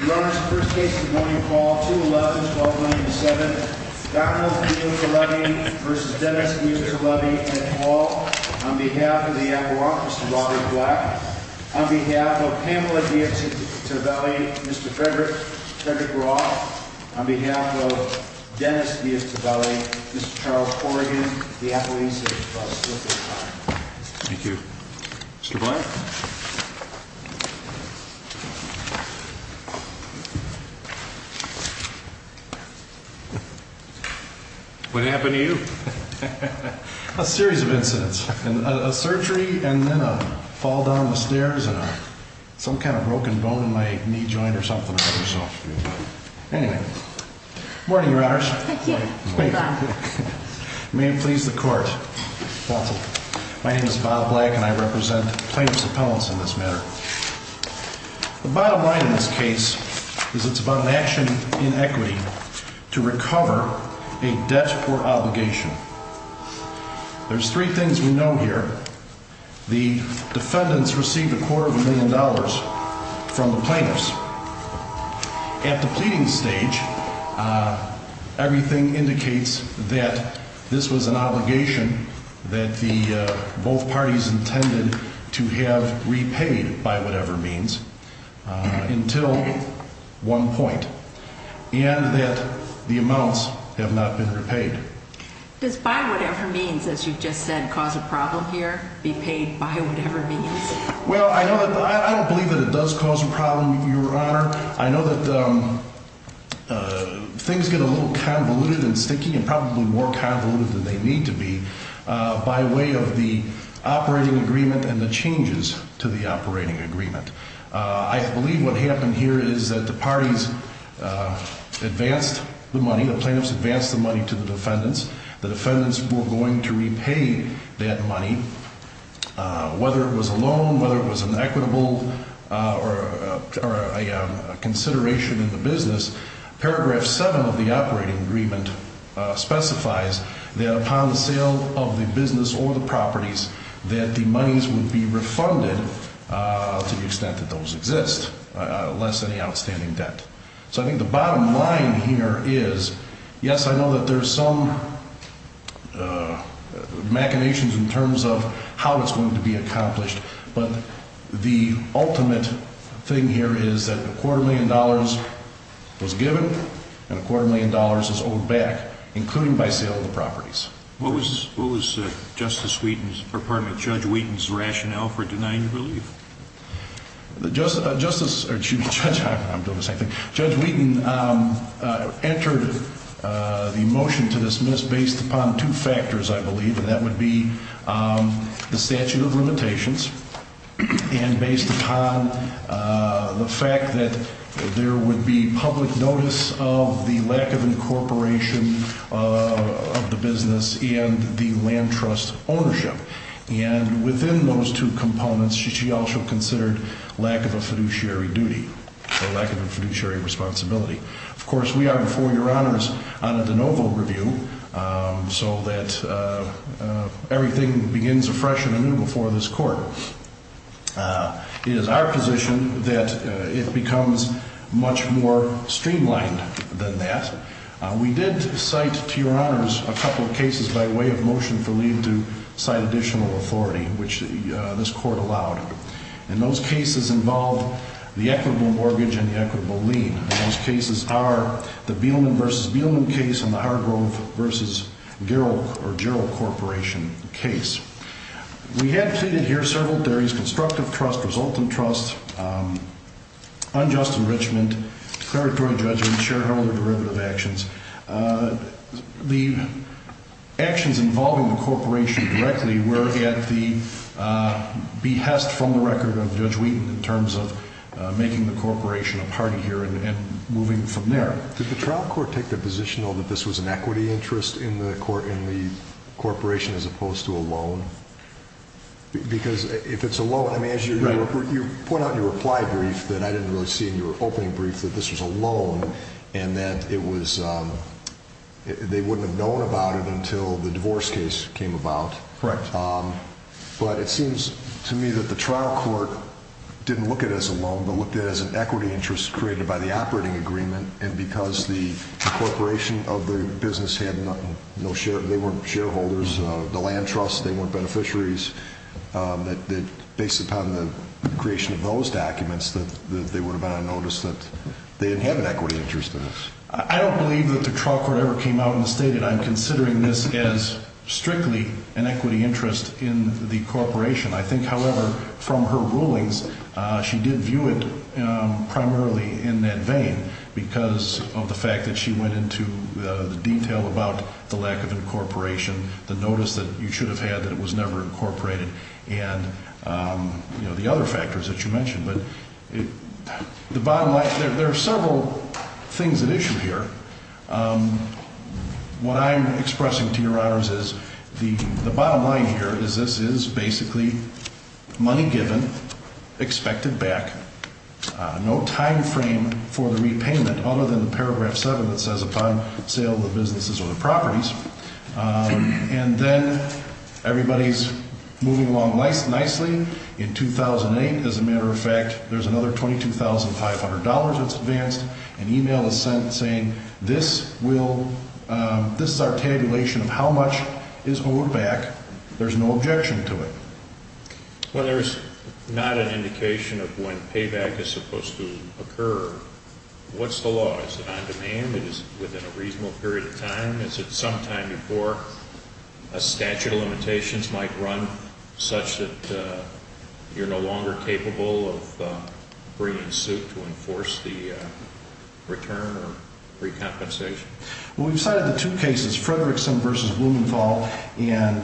Your Honor, the first case this morning is called 2-11-1297, Donald Diottallevi v. Dennis Diottallevi at the wall. On behalf of the Appalachians, Mr. Robert Black. On behalf of Pamela Diottallevi, Mr. Frederick Roth. On behalf of Dennis Diottallevi, Mr. Charles Corrigan. The appellees have split their time. Thank you. Mr. Black. What happened to you? A series of incidents. A surgery and then a fall down the stairs and some kind of broken bone in my knee joint or something. Anyway. Good morning, Your Honors. May it please the court. My name is Bob Black and I represent plaintiff's appellants in this matter. The bottom line in this case is it's about an action in equity to recover a debt or obligation. There's three things we know here. The defendants received a quarter of a million dollars from the plaintiffs. At the pleading stage, everything indicates that this was an obligation that both parties intended to have repaid by whatever means until one point. And that the amounts have not been repaid. Does by whatever means, as you just said, cause a problem here? Be paid by whatever means? Well, I don't believe that it does cause a problem, Your Honor. I know that things get a little convoluted and sticky and probably more convoluted than they need to be by way of the operating agreement and the changes to the operating agreement. I believe what happened here is that the parties advanced the money, the plaintiffs advanced the money to the defendants. The defendants were going to repay that money. Whether it was a loan, whether it was an equitable or a consideration in the business, paragraph 7 of the operating agreement specifies that upon the sale of the business or the properties, that the monies would be refunded to the extent that those exist, less any outstanding debt. So I think the bottom line here is, yes, I know that there's some machinations in terms of how it's going to be accomplished, but the ultimate thing here is that a quarter million dollars was given and a quarter million dollars is owed back, including by sale of the properties. What was Justice Wheaton's, or pardon me, Judge Wheaton's rationale for denying the relief? Judge Wheaton entered the motion to dismiss based upon two factors, I believe, and that would be the statute of limitations and based upon the fact that there would be public notice of the lack of incorporation of the business and the land trust ownership. And within those two components, she also considered lack of a fiduciary duty or lack of a fiduciary responsibility. Of course, we are, before your honors, on a de novo review so that everything begins afresh and anew before this court. It is our position that it becomes much more streamlined than that. We did cite, to your honors, a couple of cases by way of motion for leave to cite additional authority, which this court allowed. And those cases involve the equitable mortgage and the equitable lien. Those cases are the Beelman v. Beelman case and the Hargrove v. Gerol Corporation case. We had pleaded here several theories, constructive trust, resultant trust, unjust enrichment, declaratory judgment, shareholder derivative actions. The actions involving the corporation directly were at the behest from the record of Judge Wheaton in terms of making the corporation a party here and moving from there. Did the trial court take the position, though, that this was an equity interest in the corporation as opposed to a loan? Because if it's a loan, I mean, as you point out in your reply brief that I didn't really see in your opening brief that this was a loan and that they wouldn't have known about it until the divorce case came about. But it seems to me that the trial court didn't look at it as a loan, but looked at it as an equity interest created by the operating agreement. And because the corporation of the business had no share, they weren't shareholders, the land trusts, they weren't beneficiaries, that based upon the creation of those documents that they would have had a notice that they didn't have an equity interest in this. I don't believe that the trial court ever came out and stated, I'm considering this as strictly an equity interest in the corporation. I think, however, from her rulings, she did view it primarily in that vein because of the fact that she went into the detail about the lack of incorporation, the notice that you should have had that it was never incorporated, and the other factors that you mentioned. But the bottom line, there are several things at issue here. What I'm expressing to your honors is the bottom line here is this is basically money given, expected back, no time frame for the repayment other than the paragraph 7 that says upon sale of the businesses or the properties. And then everybody's moving along nicely. In 2008, as a matter of fact, there's another $22,500 that's advanced. An email is sent saying this is our tabulation of how much is owed back. There's no objection to it. Well, there's not an indication of when payback is supposed to occur. What's the law? Is it within a reasonable period of time? Is it sometime before a statute of limitations might run such that you're no longer capable of bringing suit to enforce the return or recompensation? Well, we've cited the two cases, Frederickson v. Blumenthal and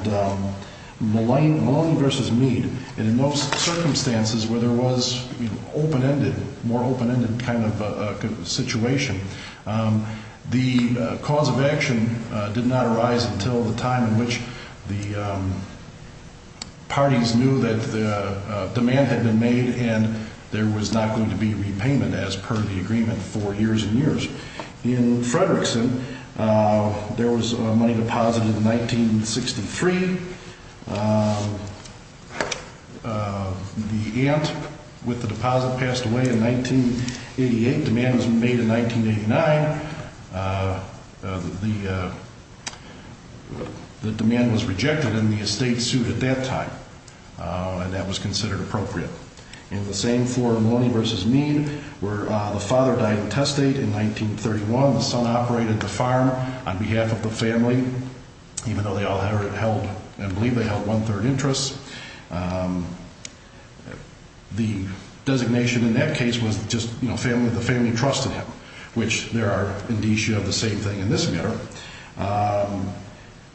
Maloney v. Meade. And in those circumstances where there was open-ended, more open-ended kind of situation, the cause of action did not arise until the time in which the parties knew that the demand had been made and there was not going to be repayment as per the agreement for years and years. In Frederickson, there was a money deposit in 1963. The aunt with the deposit passed away in 1988. Demand was made in 1989. The demand was rejected and the estate sued at that time, and that was considered appropriate. In the same forum, Maloney v. Meade, where the father died of testate in 1931, the son operated the farm on behalf of the family, even though they all held, I believe they held, one-third interests. The designation in that case was just, you know, the family trusted him, which there are indicia of the same thing in this matter.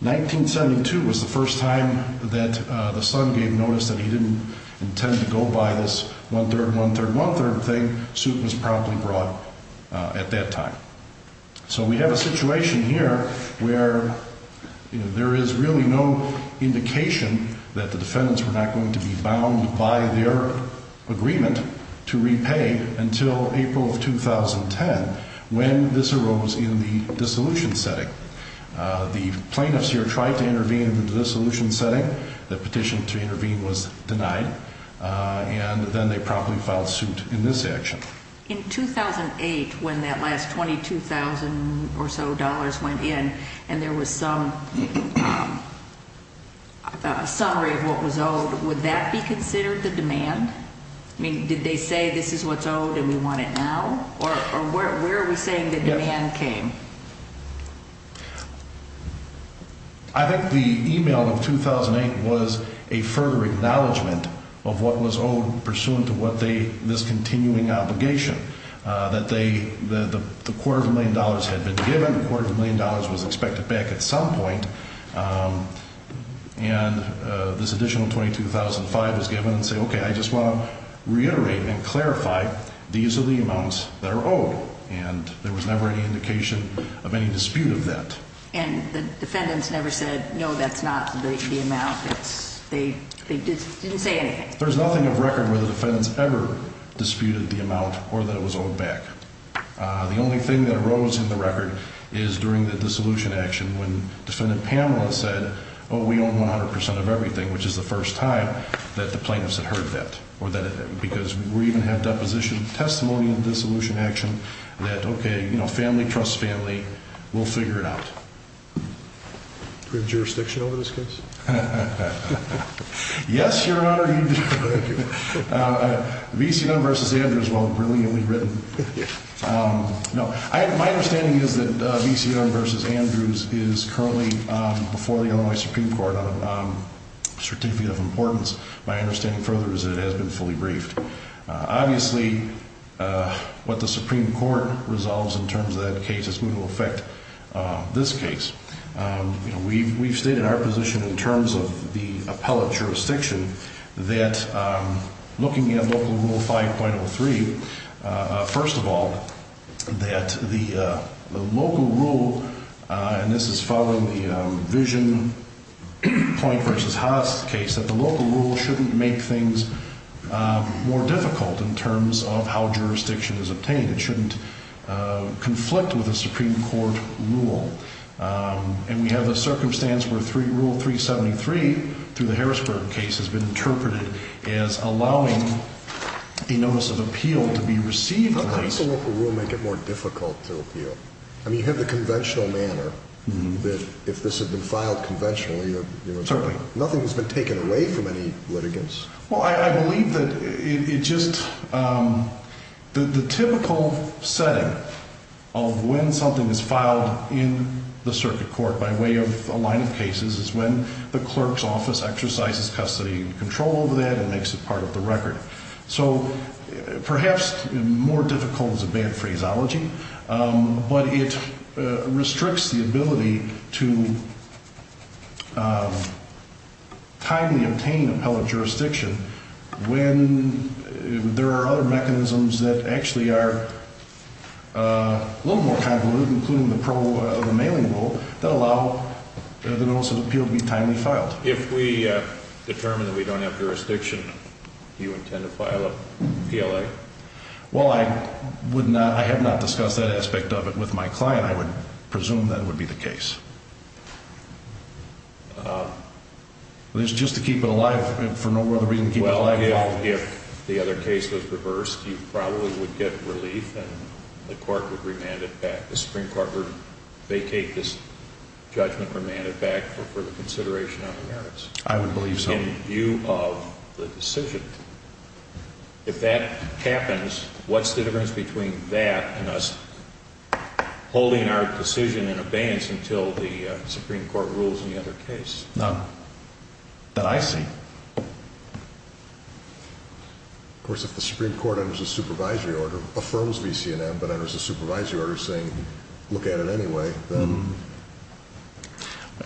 1972 was the first time that the son gave notice that he didn't intend to go by this one-third, one-third, one-third thing. Suit was probably brought at that time. So we have a situation here where, you know, there is really no indication that the defendants were not going to be bound by their agreement to repay until April of 2010 when this arose in the dissolution setting. The plaintiffs here tried to intervene in the dissolution setting. The petition to intervene was denied, and then they promptly filed suit in this action. In 2008, when that last $22,000 or so went in and there was some summary of what was owed, would that be considered the demand? I mean, did they say, this is what's owed and we want it now? Or where are we saying the demand came? I think the email of 2008 was a further acknowledgment of what was owed pursuant to what they, this continuing obligation. That they, the quarter of a million dollars had been given. The quarter of a million dollars was expected back at some point. And this additional $22,005 was given. And say, okay, I just want to reiterate and clarify, these are the amounts that are owed. And there was never any indication of any dispute of that. And the defendants never said, no, that's not the amount. They didn't say anything. There's nothing of record where the defendants ever disputed the amount or that it was owed back. The only thing that arose in the record is during the dissolution action when Defendant Pamela said, oh, we own 100% of everything, which is the first time that the plaintiffs had heard that. Because we even have deposition testimony in the dissolution action that, okay, family trusts family. We'll figure it out. Do we have jurisdiction over this case? Yes, Your Honor. VCR v. Andrews, well, brilliantly written. My understanding is that VCR v. Andrews is currently before the Illinois Supreme Court on a certificate of importance. My understanding further is that it has been fully briefed. Obviously, what the Supreme Court resolves in terms of that case is going to affect this case. We've stated our position in terms of the appellate jurisdiction that looking at Local Rule 5.03, first of all, that the local rule, and this is following the Vision Point v. Haas case, that the local rule shouldn't make things more difficult in terms of how jurisdiction is obtained. It shouldn't conflict with a Supreme Court rule. And we have a circumstance where Rule 373 through the Harrisburg case has been interpreted as allowing a notice of appeal to be received. How does the local rule make it more difficult to appeal? I mean, you have the conventional manner that if this had been filed conventionally, nothing has been taken away from any litigants. Well, I believe that it just, the typical setting of when something is filed in the circuit court by way of a line of cases is when the clerk's office exercises custody and control over that and makes it part of the record. So perhaps more difficult is a bad phraseology, but it restricts the ability to timely obtain appellate jurisdiction when there are other mechanisms that actually are a little more convoluted, including the pro of the mailing rule, that allow the notice of appeal to be timely filed. If we determine that we don't have jurisdiction, do you intend to file a PLA? Well, I have not discussed that aspect of it with my client. I would presume that would be the case. It's just to keep it alive for no other reason than to keep it alive. Well, if the other case was reversed, you probably would get relief and the court would remand it back. The Supreme Court would vacate this judgment, remand it back for further consideration on the merits. I would believe so. In view of the decision. If that happens, what's the difference between that and us holding our decision in abeyance until the Supreme Court rules in the other case? None that I see. Of course, if the Supreme Court enters a supervisory order, affirms VC&M, but enters a supervisory order saying, look at it anyway, then...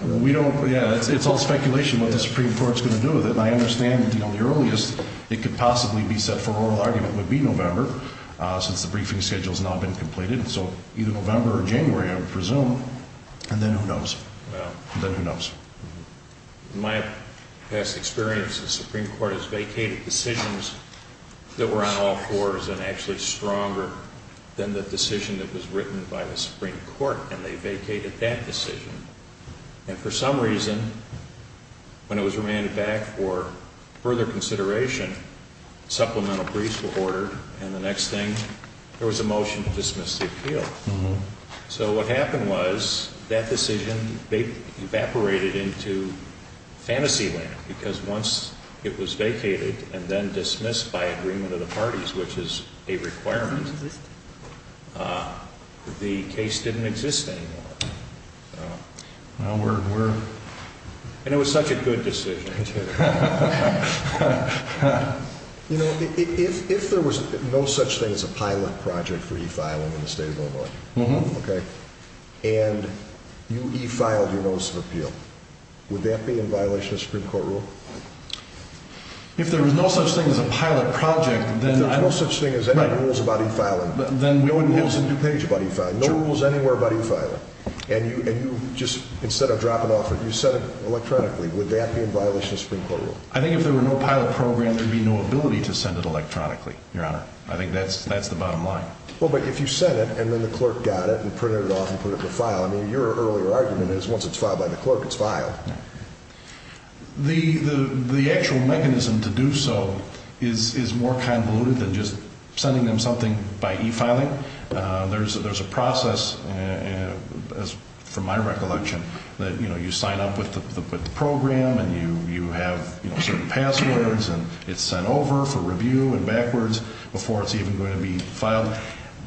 We don't, yeah, it's all speculation what the Supreme Court's going to do with it. And I understand that, you know, the earliest it could possibly be set for oral argument would be November, since the briefing schedule's now been completed. And so either November or January, I would presume, and then who knows? Well... Then who knows? In my past experience, the Supreme Court has vacated decisions that were on all fours and actually stronger than the decision that was written by the Supreme Court, and they vacated that decision. And for some reason, when it was remanded back for further consideration, supplemental briefs were ordered, and the next thing, there was a motion to dismiss the appeal. So what happened was, that decision evaporated into fantasy land, because once it was vacated and then dismissed by agreement of the parties, which is a requirement, the case didn't exist anymore. And it was such a good decision. You know, if there was no such thing as a pilot project for e-filing in the state of Illinois, and you e-filed your notice of appeal, would that be in violation of the Supreme Court rule? If there was no such thing as a pilot project, then... If there was no such thing as any rules about e-filing, no rules in DuPage about e-filing, no rules anywhere about e-filing, and you just, instead of dropping off, you said it electronically, would that be in violation of the Supreme Court rule? I think if there were no pilot program, there would be no ability to send it electronically, Your Honor. I think that's the bottom line. Well, but if you sent it, and then the clerk got it and printed it off and put it in a file, I mean, your earlier argument is, once it's filed by the clerk, it's filed. The actual mechanism to do so is more convoluted than just sending them something by e-filing. There's a process, from my recollection, that you sign up with the program, and you have certain passwords, and it's sent over for review and backwards before it's even going to be filed.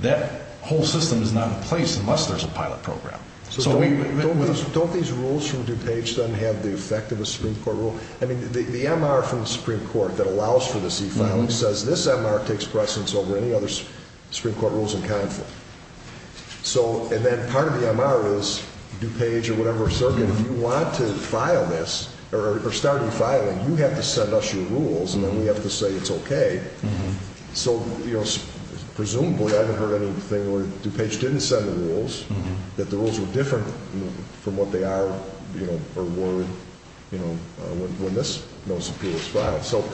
That whole system is not in place unless there's a pilot program. Don't these rules from DuPage then have the effect of a Supreme Court rule? I mean, the MR from the Supreme Court that allows for the e-filing says, this MR takes precedence over any other Supreme Court rules in conflict. And then part of the MR is, DuPage or whatever circuit, if you want to file this or start e-filing, you have to send us your rules, and then we have to say it's okay. So presumably, I haven't heard anything where DuPage didn't send the rules, that the rules were different from what they are or were when this notice of appeal was filed. So,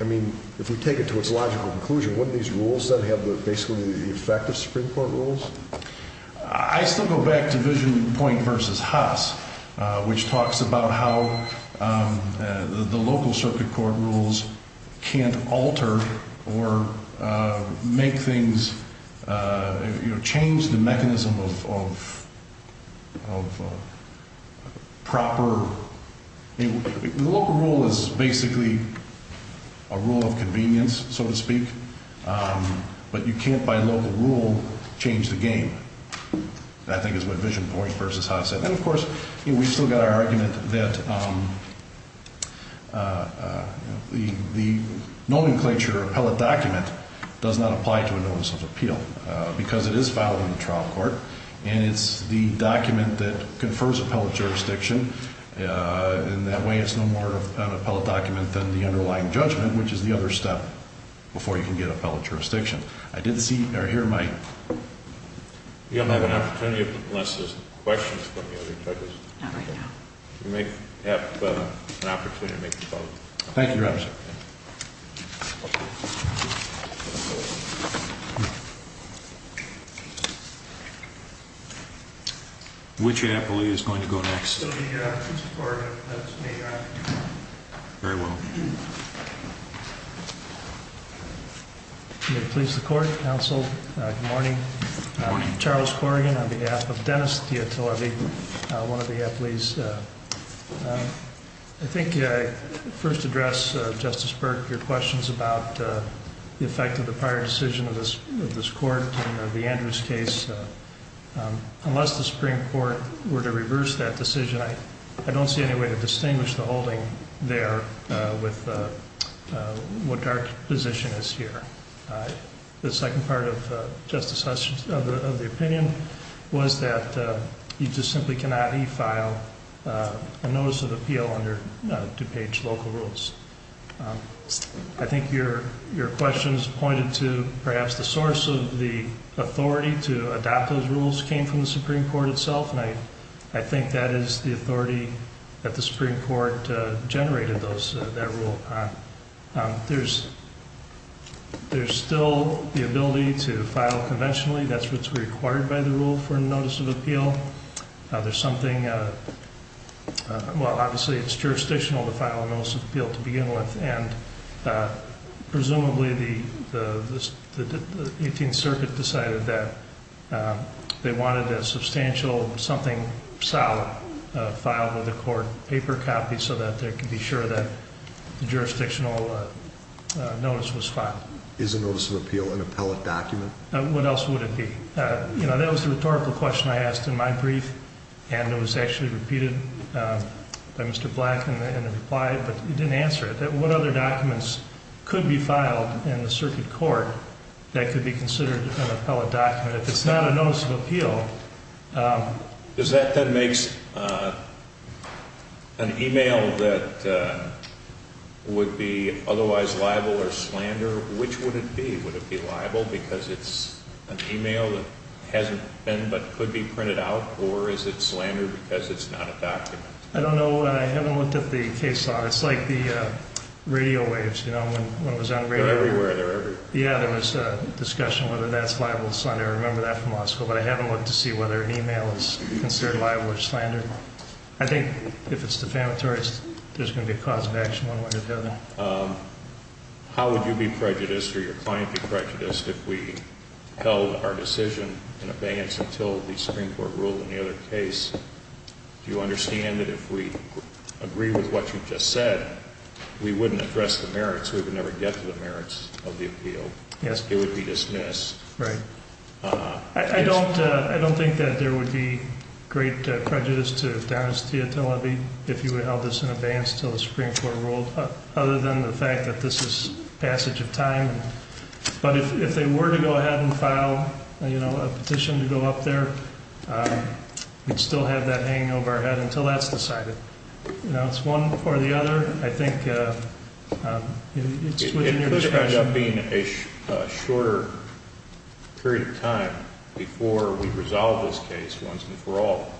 I mean, if we take it to its logical conclusion, wouldn't these rules then have basically the effect of Supreme Court rules? I still go back to Vision Point v. Haas, which talks about how the local circuit court rules can't alter or make things, you know, change the mechanism of proper. The local rule is basically a rule of convenience, so to speak, but you can't, by local rule, change the game. That, I think, is what Vision Point v. Haas said. And, of course, we've still got our argument that the nomenclature appellate document does not apply to a notice of appeal because it is filed in the trial court, and it's the document that confers appellate jurisdiction. In that way, it's no more of an appellate document than the underlying judgment, which is the other step before you can get appellate jurisdiction. I didn't see or hear Mike. We don't have an opportunity unless there's questions from the other judges. Not right now. We may have an opportunity to make a vote. Thank you, Your Honor. Which appellee is going to go next? It's going to be Mr. Corrigan. That's me, Your Honor. Very well. May it please the Court, counsel. Good morning. Charles Corrigan on behalf of Dennis Diotullavi, one of the appellees. I think I first address, Justice Burke, your questions about the effect of the prior decision of this court in the Andrews case. Unless the Supreme Court were to reverse that decision, I don't see any way to distinguish the holding there with what our position is here. The second part of the opinion was that you just simply cannot e-file a notice of appeal under DuPage local rules. I think your questions pointed to perhaps the source of the authority to adopt those rules came from the Supreme Court itself, and I think that is the authority that the Supreme Court generated that rule upon. There's still the ability to file conventionally. That's what's required by the rule for a notice of appeal. There's something, well, obviously it's jurisdictional to file a notice of appeal to begin with, and presumably the 18th Circuit decided that they wanted a substantial, something solid, filed with the court, paper copy, so that they could be sure that the jurisdictional notice was filed. Is a notice of appeal an appellate document? What else would it be? That was the rhetorical question I asked in my brief, and it was actually repeated by Mr. Black in the reply, but he didn't answer it, that what other documents could be filed in the circuit court that could be considered an appellate document? If it's not a notice of appeal. Does that then make an e-mail that would be otherwise liable or slander? Which would it be? Would it be liable because it's an e-mail that hasn't been but could be printed out, or is it slander because it's not a document? I don't know. I haven't looked at the case file. It's like the radio waves, you know, when it was on radio. They're everywhere. Yeah, there was a discussion whether that's liable or slander. I remember that from law school, but I haven't looked to see whether e-mail is considered liable or slander. I think if it's defamatory, there's going to be a cause of action one way or the other. How would you be prejudiced or your client be prejudiced if we held our decision in abeyance until the Supreme Court ruled in the other case? Do you understand that if we agree with what you just said, we wouldn't address the merits? We would never get to the merits of the appeal? Yes. It would be dismissed. Right. I don't think that there would be great prejudice to Denis Teotihuacan if you held this in abeyance until the Supreme Court ruled, other than the fact that this is passage of time. But if they were to go ahead and file a petition to go up there, we'd still have that hanging over our head until that's decided. You know, it's one or the other. I think it's within your discretion. It could end up being a shorter period of time before we resolve this case once and for all.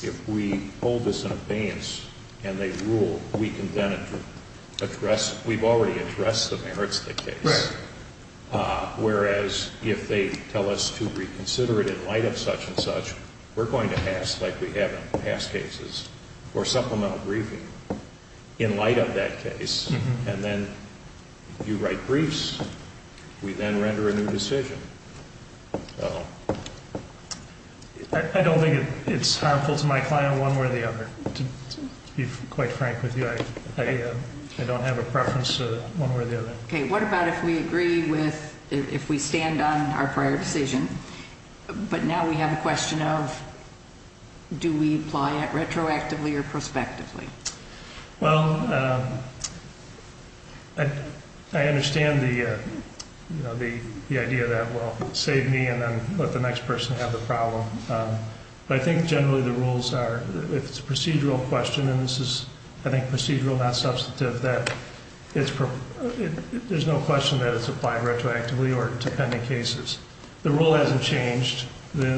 If we hold this in abeyance and they rule, we can then address, we've already addressed the merits of the case. Right. Whereas if they tell us to reconsider it in light of such and such, we're going to pass like we have in past cases or supplemental briefing in light of that case. And then you write briefs. We then render a new decision. I don't think it's harmful to my client one way or the other. To be quite frank with you, I don't have a preference one way or the other. Okay. What about if we agree with if we stand on our prior decision, but now we have a question of do we apply it retroactively or prospectively? Well, I understand the idea that, well, save me and then let the next person have the problem. But I think generally the rules are if it's a procedural question, and this is, I think, procedural, not substantive, that there's no question that it's applied retroactively or to pending cases. The rule hasn't changed. The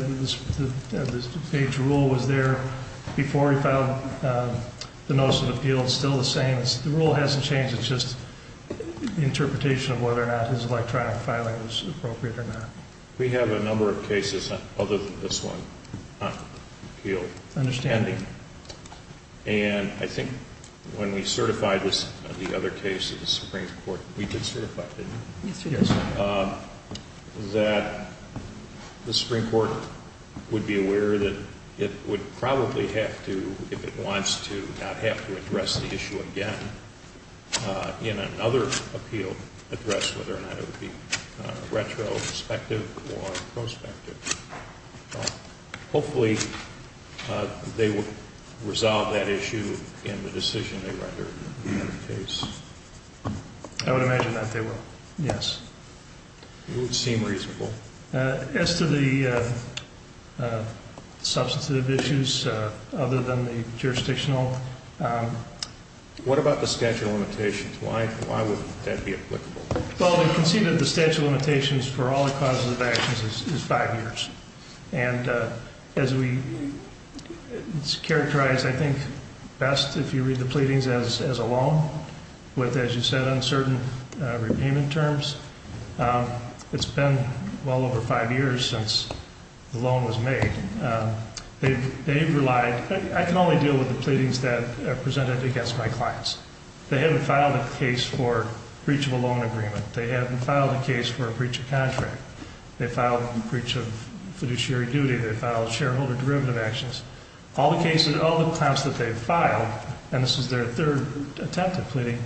page rule was there before he filed the notice of appeal. It's still the same. The rule hasn't changed. It's just interpretation of whether or not his electronic filing was appropriate or not. We have a number of cases other than this one on appeal. Understanding. And I think when we certify this, the other case of the Supreme Court, we did certify it, didn't we? Yes, we did. That the Supreme Court would be aware that it would probably have to, if it wants to, not have to address the issue again in another appeal, address whether or not it would be retrospective or prospective. Hopefully they would resolve that issue in the decision they render in the case. I would imagine that they will, yes. It would seem reasonable. As to the substantive issues other than the jurisdictional. What about the statute of limitations? Why would that be applicable? Well, they conceded the statute of limitations for all the causes of actions is five years. And as we characterize, I think, best if you read the pleadings as a loan with, as you said, uncertain repayment terms. It's been well over five years since the loan was made. They've relied. I can only deal with the pleadings that are presented against my clients. They haven't filed a case for breach of a loan agreement. They haven't filed a case for a breach of contract. They filed a breach of fiduciary duty. They filed shareholder derivative actions. All the cases, all the clients that they've filed, and this is their third attempt at pleading,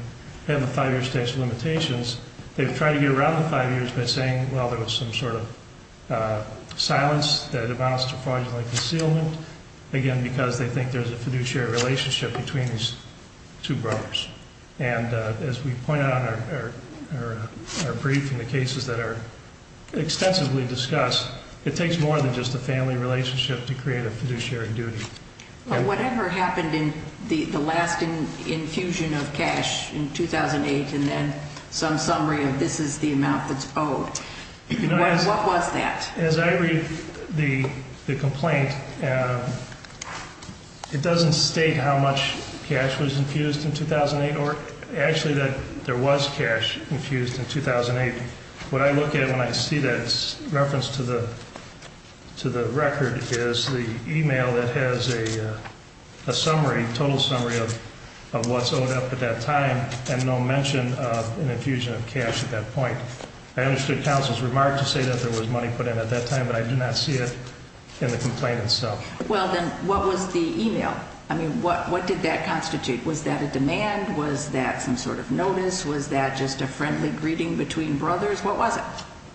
have a five-year statute of limitations. They've tried to get around the five years by saying, well, there was some sort of silence that amounts to fraudulent concealment. Again, because they think there's a fiduciary relationship between these two brothers. And as we point out in our brief and the cases that are extensively discussed, it takes more than just a family relationship to create a fiduciary duty. Whatever happened in the last infusion of cash in 2008 and then some summary of this is the amount that's owed, what was that? As I read the complaint, it doesn't state how much cash was infused in 2008 or actually that there was cash infused in 2008. What I look at when I see that reference to the record is the e-mail that has a summary, total summary of what's owed up at that time and no mention of an infusion of cash at that point. I understood counsel's remark to say that there was money put in at that time, but I did not see it in the complaint itself. Well, then what was the e-mail? I mean, what did that constitute? Was that a demand? Was that some sort of notice? Was that just a friendly greeting between brothers? What was it?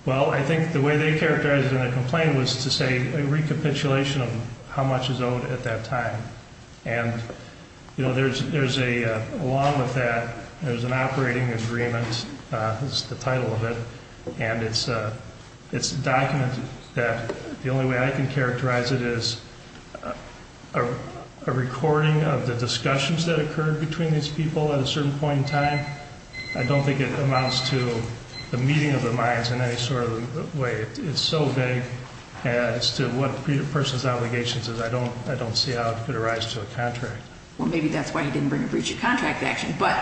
Well, I think the way they characterized it in the complaint was to say a recapitulation of how much is owed at that time. And, you know, there's a, along with that, there's an operating agreement is the title of it, and it's a document that the only way I can characterize it is a recording of the discussions that occurred between these people at a certain point in time. I don't think it amounts to the meeting of the minds in any sort of way. It's so vague as to what a person's allegations is. I don't see how it could arise to a contract. Well, maybe that's why he didn't bring a breach of contract action. But,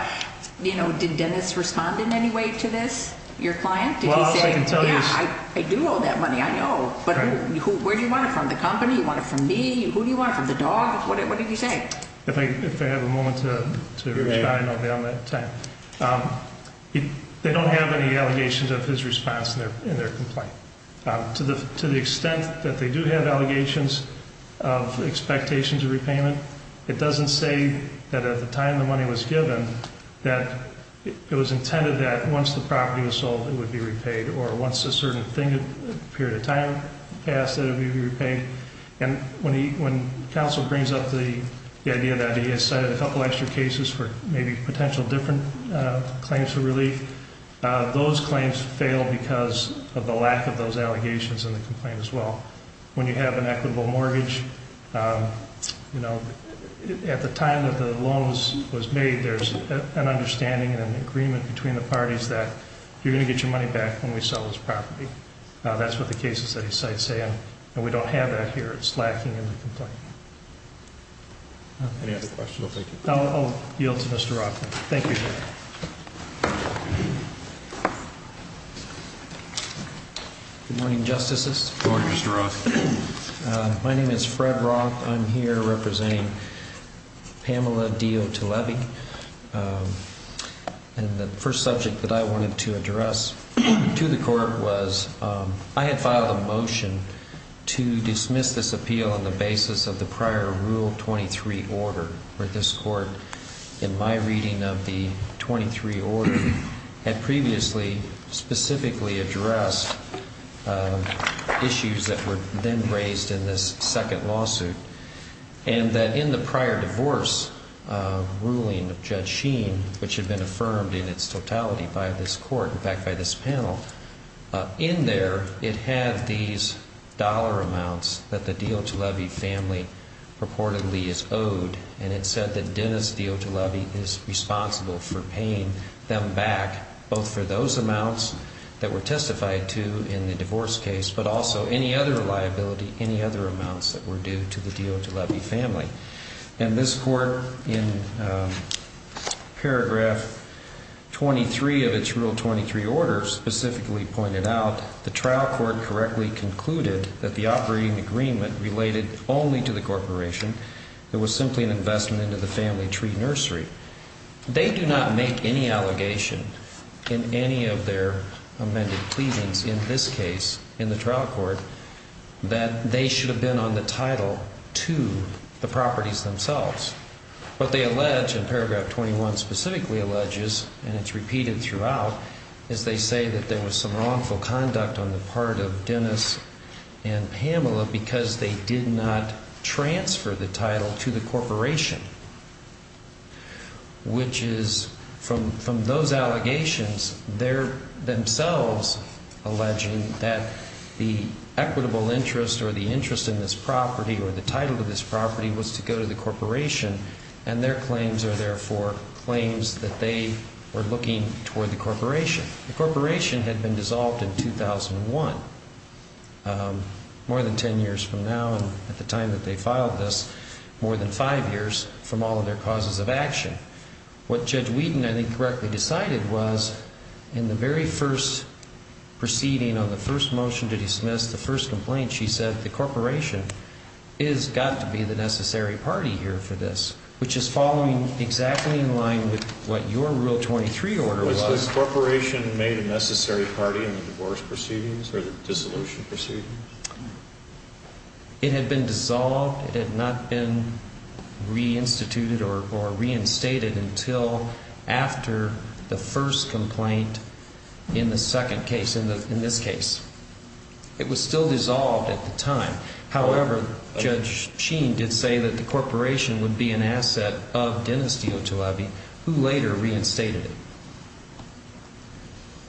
you know, did Dennis respond in any way to this, your client? Did he say, yeah, I do owe that money, I know. But where do you want it from, the company? You want it from me? Who do you want it from, the dog? What did he say? If I have a moment to respond, I'll be on that time. They don't have any allegations of his response in their complaint. To the extent that they do have allegations of expectations of repayment, it doesn't say that at the time the money was given that it was intended that once the property was sold, it would be repaid, or once a certain period of time passed, it would be repaid. And when counsel brings up the idea that he has cited a couple extra cases for maybe potential different claims for relief, those claims fail because of the lack of those allegations in the complaint as well. When you have an equitable mortgage, you know, at the time that the loan was made, there's an understanding and an agreement between the parties that you're going to get your money back when we sell this property. That's what the cases that he cites say. And we don't have that here. It's lacking in the complaint. Any other questions? I'll yield to Mr. Rothman. Thank you, sir. Good morning, Justices. Good morning, Mr. Rothman. My name is Fred Roth. I'm here representing Pamela Diot-Levy. And the first subject that I wanted to address to the court was I had filed a motion to dismiss this appeal on the basis of the prior Rule 23 order where this court, in my reading of the 23 order, had previously specifically addressed issues that were then raised in this second lawsuit. And that in the prior divorce ruling of Judge Sheen, which had been affirmed in its totality by this court, in fact, by this panel, in there, it had these dollar amounts that the Diot-Levy family purportedly is owed. And it said that Dennis Diot-Levy is responsible for paying them back, both for those amounts that were testified to in the divorce case, but also any other liability, any other amounts that were due to the Diot-Levy family. And this court, in paragraph 23 of its Rule 23 order, specifically pointed out the trial court correctly concluded that the operating agreement related only to the corporation. It was simply an investment into the family tree nursery. They do not make any allegation in any of their amended pleasings in this case in the trial court that they should have been on the title to the properties themselves. What they allege, and paragraph 21 specifically alleges, and it's repeated throughout, is they say that there was some wrongful conduct on the part of Dennis and Pamela because they did not transfer the title to the corporation. Which is, from those allegations, they're themselves alleging that the equitable interest or the interest in this property or the title to this property was to go to the corporation, and their claims are therefore claims that they were looking toward the corporation. The corporation had been dissolved in 2001, more than 10 years from now, and at the time that they filed this, more than five years from all of their causes of action. What Judge Whedon, I think, correctly decided was, in the very first proceeding on the first motion to dismiss the first complaint, she said the corporation has got to be the necessary party here for this. Which is following exactly in line with what your Rule 23 order was. Was the corporation made a necessary party in the divorce proceedings or the dissolution proceedings? It had been dissolved. It had not been reinstituted or reinstated until after the first complaint in the second case, in this case. It was still dissolved at the time. However, Judge Sheen did say that the corporation would be an asset of Dennis Diotulabi, who later reinstated it.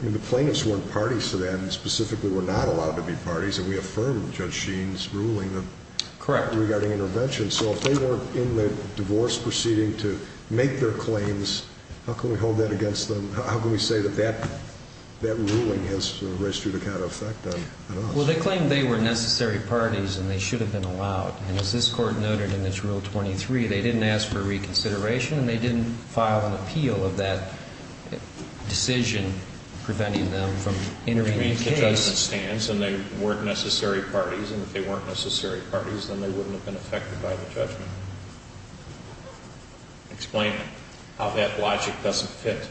And the plaintiffs weren't parties to that, and specifically were not allowed to be parties, and we affirmed Judge Sheen's ruling regarding intervention. So if they weren't in the divorce proceeding to make their claims, how can we hold that against them? How can we say that that ruling has registered a counter effect on us? Well, they claimed they were necessary parties and they should have been allowed. And as this Court noted in its Rule 23, they didn't ask for reconsideration and they didn't file an appeal of that decision preventing them from entering the case. Which means the judgment stands and they weren't necessary parties. And if they weren't necessary parties, then they wouldn't have been affected by the judgment. Explain how that logic doesn't fit.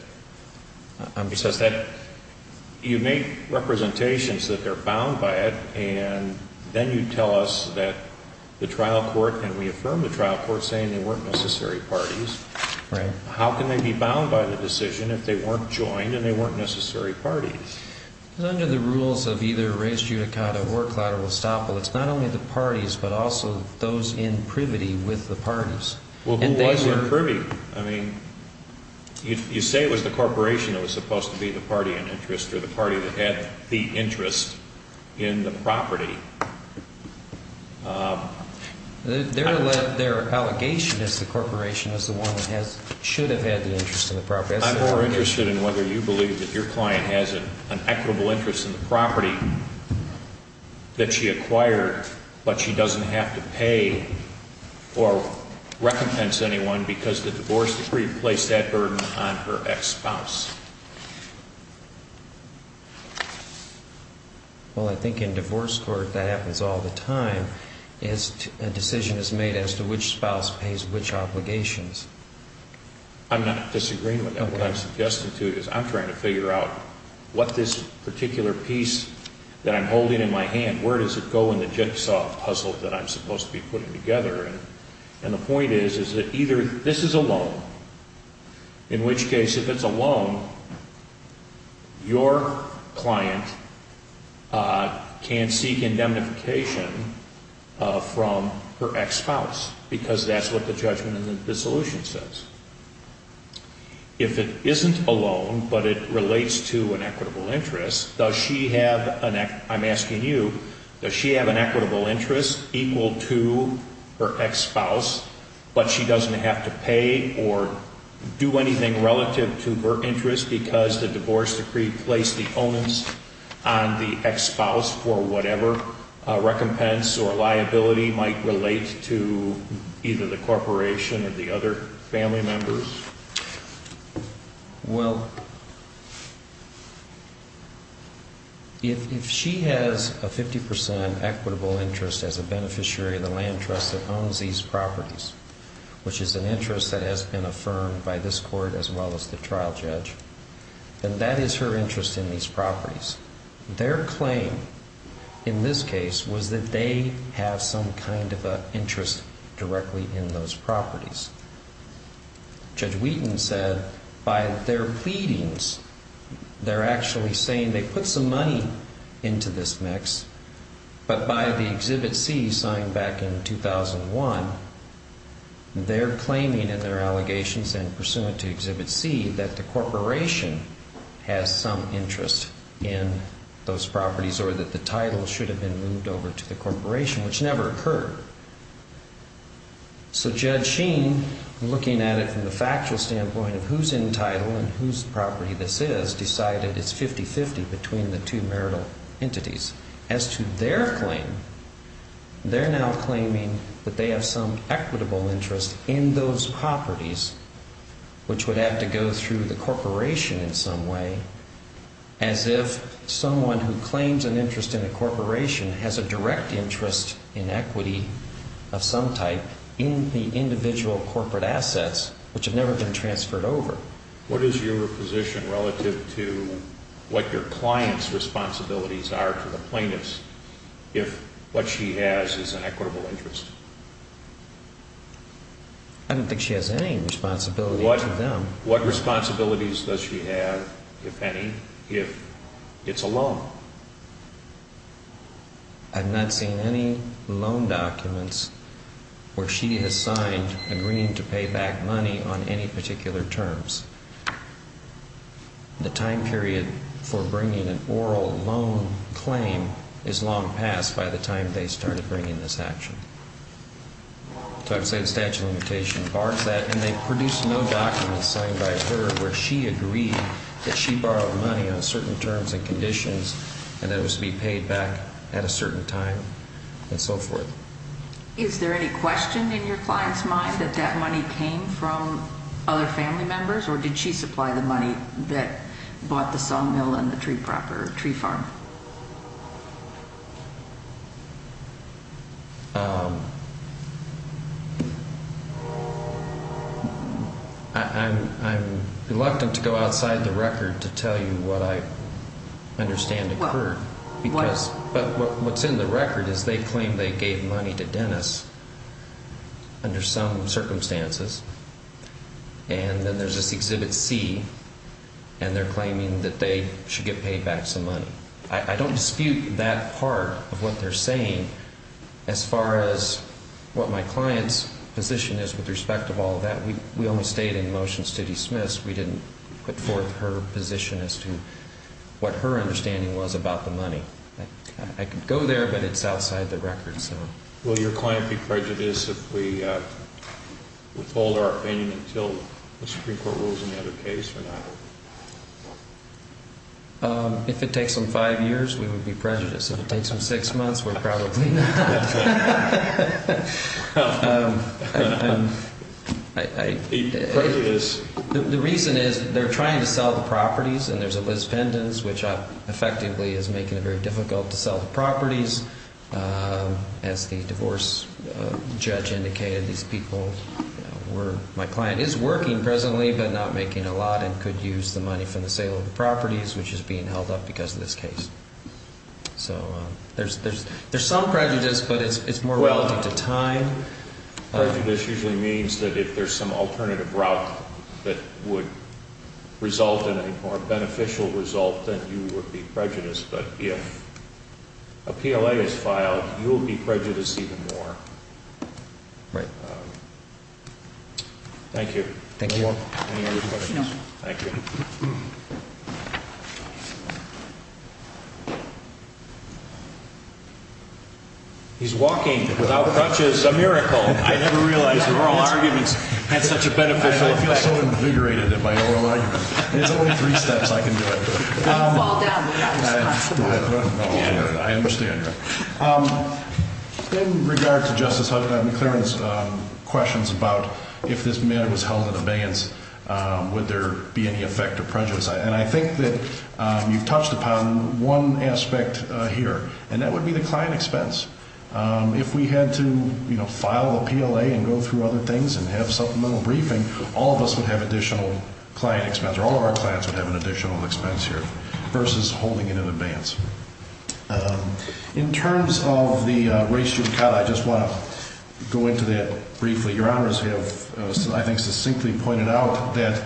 You make representations that they're bound by it, and then you tell us that the trial court, and we affirmed the trial court, saying they weren't necessary parties. Right. How can they be bound by the decision if they weren't joined and they weren't necessary parties? Under the rules of either res judicata or claudibus estoppel, it's not only the parties, but also those in privity with the parties. Well, who was in privy? I mean, you say it was the corporation that was supposed to be the party in interest or the party that had the interest in the property. Their allegation is the corporation is the one that should have had the interest in the property. I'm more interested in whether you believe that your client has an equitable interest in the property that she acquired, but she doesn't have to pay or recompense anyone because the divorce decree placed that burden on her ex-spouse. Well, I think in divorce court that happens all the time. A decision is made as to which spouse pays which obligations. I'm not disagreeing with that. What I'm suggesting to you is I'm trying to figure out what this particular piece that I'm holding in my hand, where does it go in the jigsaw puzzle that I'm supposed to be putting together? And the point is, is that either this is a loan, in which case if it's a loan, your client can seek indemnification from her ex-spouse because that's what the judgment in the dissolution says. If it isn't a loan, but it relates to an equitable interest, does she have, I'm asking you, does she have an equitable interest equal to her ex-spouse, but she doesn't have to pay or do anything relative to her interest because the divorce decree placed the onus on the ex-spouse for whatever recompense or liability might relate to either the corporation or the other family member. Well, if she has a 50% equitable interest as a beneficiary of the land trust that owns these properties, which is an interest that has been affirmed by this court as well as the trial judge, then that is her interest in these properties. Their claim in this case was that they have some kind of an interest directly in those properties. Judge Wheaton said by their pleadings, they're actually saying they put some money into this mix, but by the Exhibit C signed back in 2001, they're claiming in their allegations and pursuant to Exhibit C that the corporation has some interest in those properties or that the title should have been moved over to the corporation, which never occurred. So Judge Sheen, looking at it from the factual standpoint of who's entitled and whose property this is, decided it's 50-50 between the two marital entities. As to their claim, they're now claiming that they have some equitable interest in those properties, which would have to go through the corporation in some way, as if someone who claims an interest in a corporation has a direct interest in equity of some type in the individual corporate assets, which have never been transferred over. What is your position relative to what your client's responsibilities are to the plaintiffs if what she has is an equitable interest? I don't think she has any responsibility to them. What responsibilities does she have, if any, if it's a loan? I've not seen any loan documents where she has signed agreeing to pay back money on any particular terms. The time period for bringing an oral loan claim is long past by the time they started bringing this action. So I would say the statute of limitations bars that, and they produced no documents signed by her where she agreed that she borrowed money on certain terms and conditions and that it was to be paid back at a certain time and so forth. Is there any question in your client's mind that that money came from other family members, or did she supply the money that bought the sawmill and the tree farm? I'm reluctant to go outside the record to tell you what I understand occurred. But what's in the record is they claim they gave money to Dennis under some circumstances, and then there's this Exhibit C, and they're claiming that they should get paid back some money. I don't dispute that part of what they're saying as far as what my client's position is with respect to all of that. We only stayed in motions to dismiss. We didn't put forth her position as to what her understanding was about the money. I could go there, but it's outside the record. Will your client be prejudiced if we withhold our opinion until the Supreme Court rules another case or not? If it takes them five years, we would be prejudiced. If it takes them six months, we're probably not. The reason is they're trying to sell the properties, and there's a Liz Pendens, which effectively is making it very difficult to sell the properties. As the divorce judge indicated, my client is working presently but not making a lot and could use the money for the sale of the properties, which is being held up because of this case. So there's some prejudice, but it's more relative to time. Prejudice usually means that if there's some alternative route that would result in a more beneficial result, then you would be prejudiced. But if a PLA is filed, you will be prejudiced even more. Thank you. Any other questions? No. Thank you. He's walking without crutches. A miracle. I never realized oral arguments had such a beneficial effect. I feel so invigorated in my oral arguments. There's only three steps I can do. Don't fall down. You're not responsible. I understand. In regard to Justice McClaren's questions about if this matter was held in abeyance, would there be any effect of prejudice? And I think that you've touched upon one aspect here, and that would be the client expense. If we had to file a PLA and go through other things and have supplemental briefing, all of us would have additional client expense, or all of our clients would have an additional expense here versus holding it in abeyance. In terms of the racial cut, I just want to go into that briefly. Your Honors have, I think, succinctly pointed out that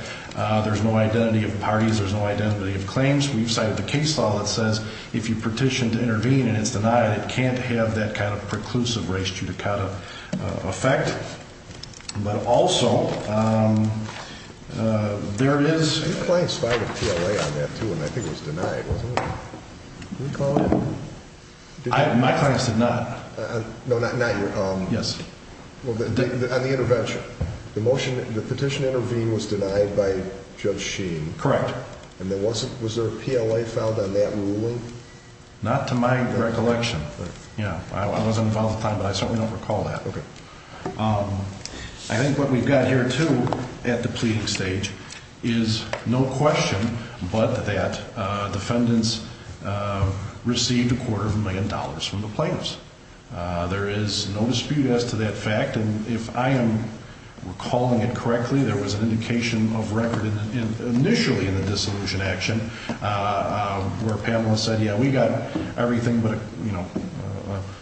there's no identity of parties, there's no identity of claims. We've cited the case law that says if you petition to intervene and it's denied, it can't have that kind of preclusive race judicata effect. But also, there is – Your clients filed a PLA on that, too, and I think it was denied, wasn't it? Did we call it? My clients did not. No, not your – Yes. On the intervention, the petition to intervene was denied by Judge Sheen. Correct. And there wasn't – was there a PLA filed on that ruling? Not to my recollection. Yeah. I was involved at the time, but I certainly don't recall that. Okay. I think what we've got here, too, at the pleading stage is no question but that defendants received a quarter of a million dollars from the plaintiffs. There is no dispute as to that fact, and if I am recalling it correctly, there was an indication of record initially in the dissolution action where Pamela said, yeah, we got everything but, you know,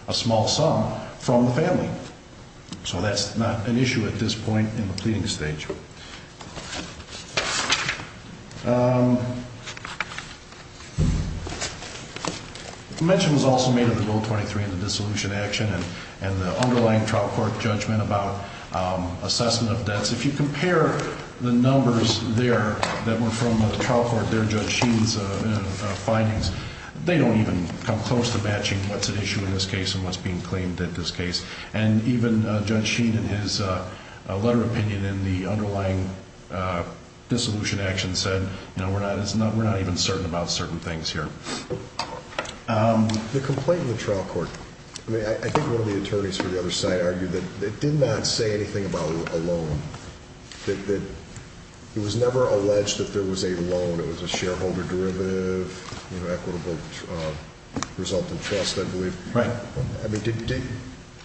a small sum from the family. So that's not an issue at this point in the pleading stage. Thank you. The mention was also made of the Bill 23 and the dissolution action and the underlying trial court judgment about assessment of debts. If you compare the numbers there that were from the trial court there, Judge Sheen's findings, they don't even come close to matching what's at issue in this case and what's being claimed at this case. And even Judge Sheen in his letter opinion in the underlying dissolution action said, you know, we're not even certain about certain things here. The complaint in the trial court, I mean, I think one of the attorneys for the other side argued that it did not say anything about a loan, that it was never alleged that there was a loan. It was a shareholder derivative, you know, equitable result in trust, I believe. Right. I mean,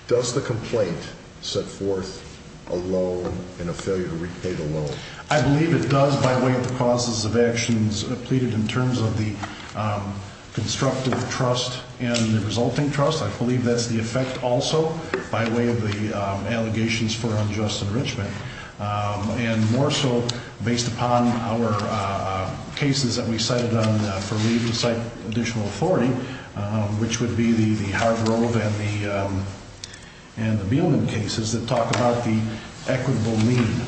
does the complaint set forth a loan and a failure to repay the loan? I believe it does by way of the causes of actions pleaded in terms of the constructive trust and the resulting trust. I believe that's the effect also by way of the allegations for unjust enrichment. And more so based upon our cases that we cited on for leave to cite additional authority, which would be the Hargrove and the Mielman cases that talk about the equitable lien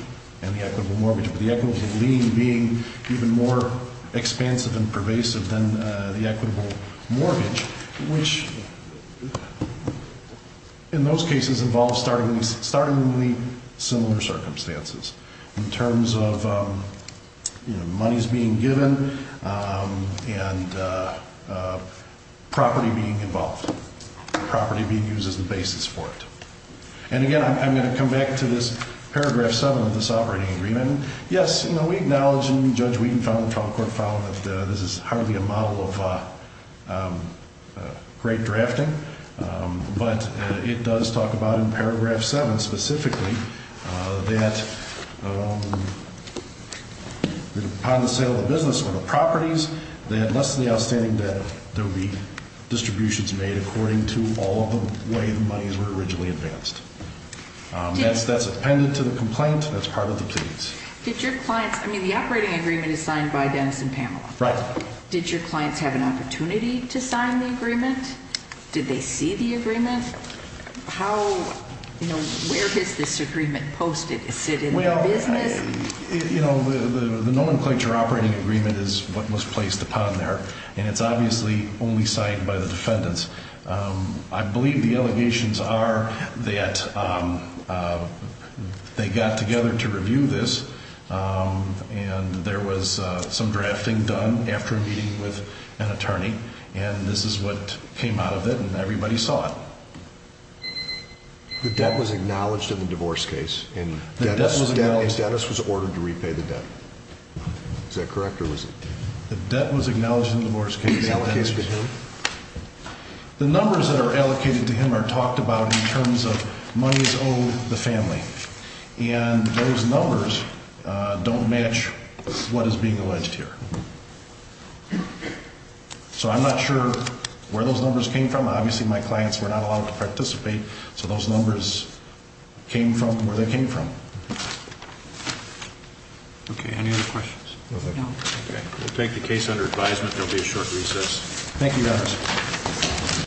and the equitable mortgage. But the equitable lien being even more expansive and pervasive than the equitable mortgage, which in those cases involves startlingly similar circumstances in terms of, you know, monies being given and property being involved, property being used as the basis for it. And again, I'm going to come back to this paragraph seven of this operating agreement. That's that's appended to the complaint. That's part of the plea. Did your clients? I mean, the operating agreement is signed by Dennis and Pamela. Right. Did your clients have an opportunity to sign the agreement? Did they see the agreement? How, you know, where is this agreement posted? Is it in the business? You know, the nomenclature operating agreement is what was placed upon there. And it's obviously only signed by the defendants. I believe the allegations are that they got together to review this. And there was some drafting done after a meeting with an attorney. And this is what came out of it. And everybody saw it. The debt was acknowledged in the divorce case. And Dennis was ordered to repay the debt. Is that correct? The debt was acknowledged in the divorce case. The numbers that are allocated to him are talked about in terms of money is owed the family. And those numbers don't match what is being alleged here. So I'm not sure where those numbers came from. Obviously, my clients were not allowed to participate. So those numbers came from where they came from. Okay. Any other questions? No. Okay. We'll take the case under advisement. There will be a short recess.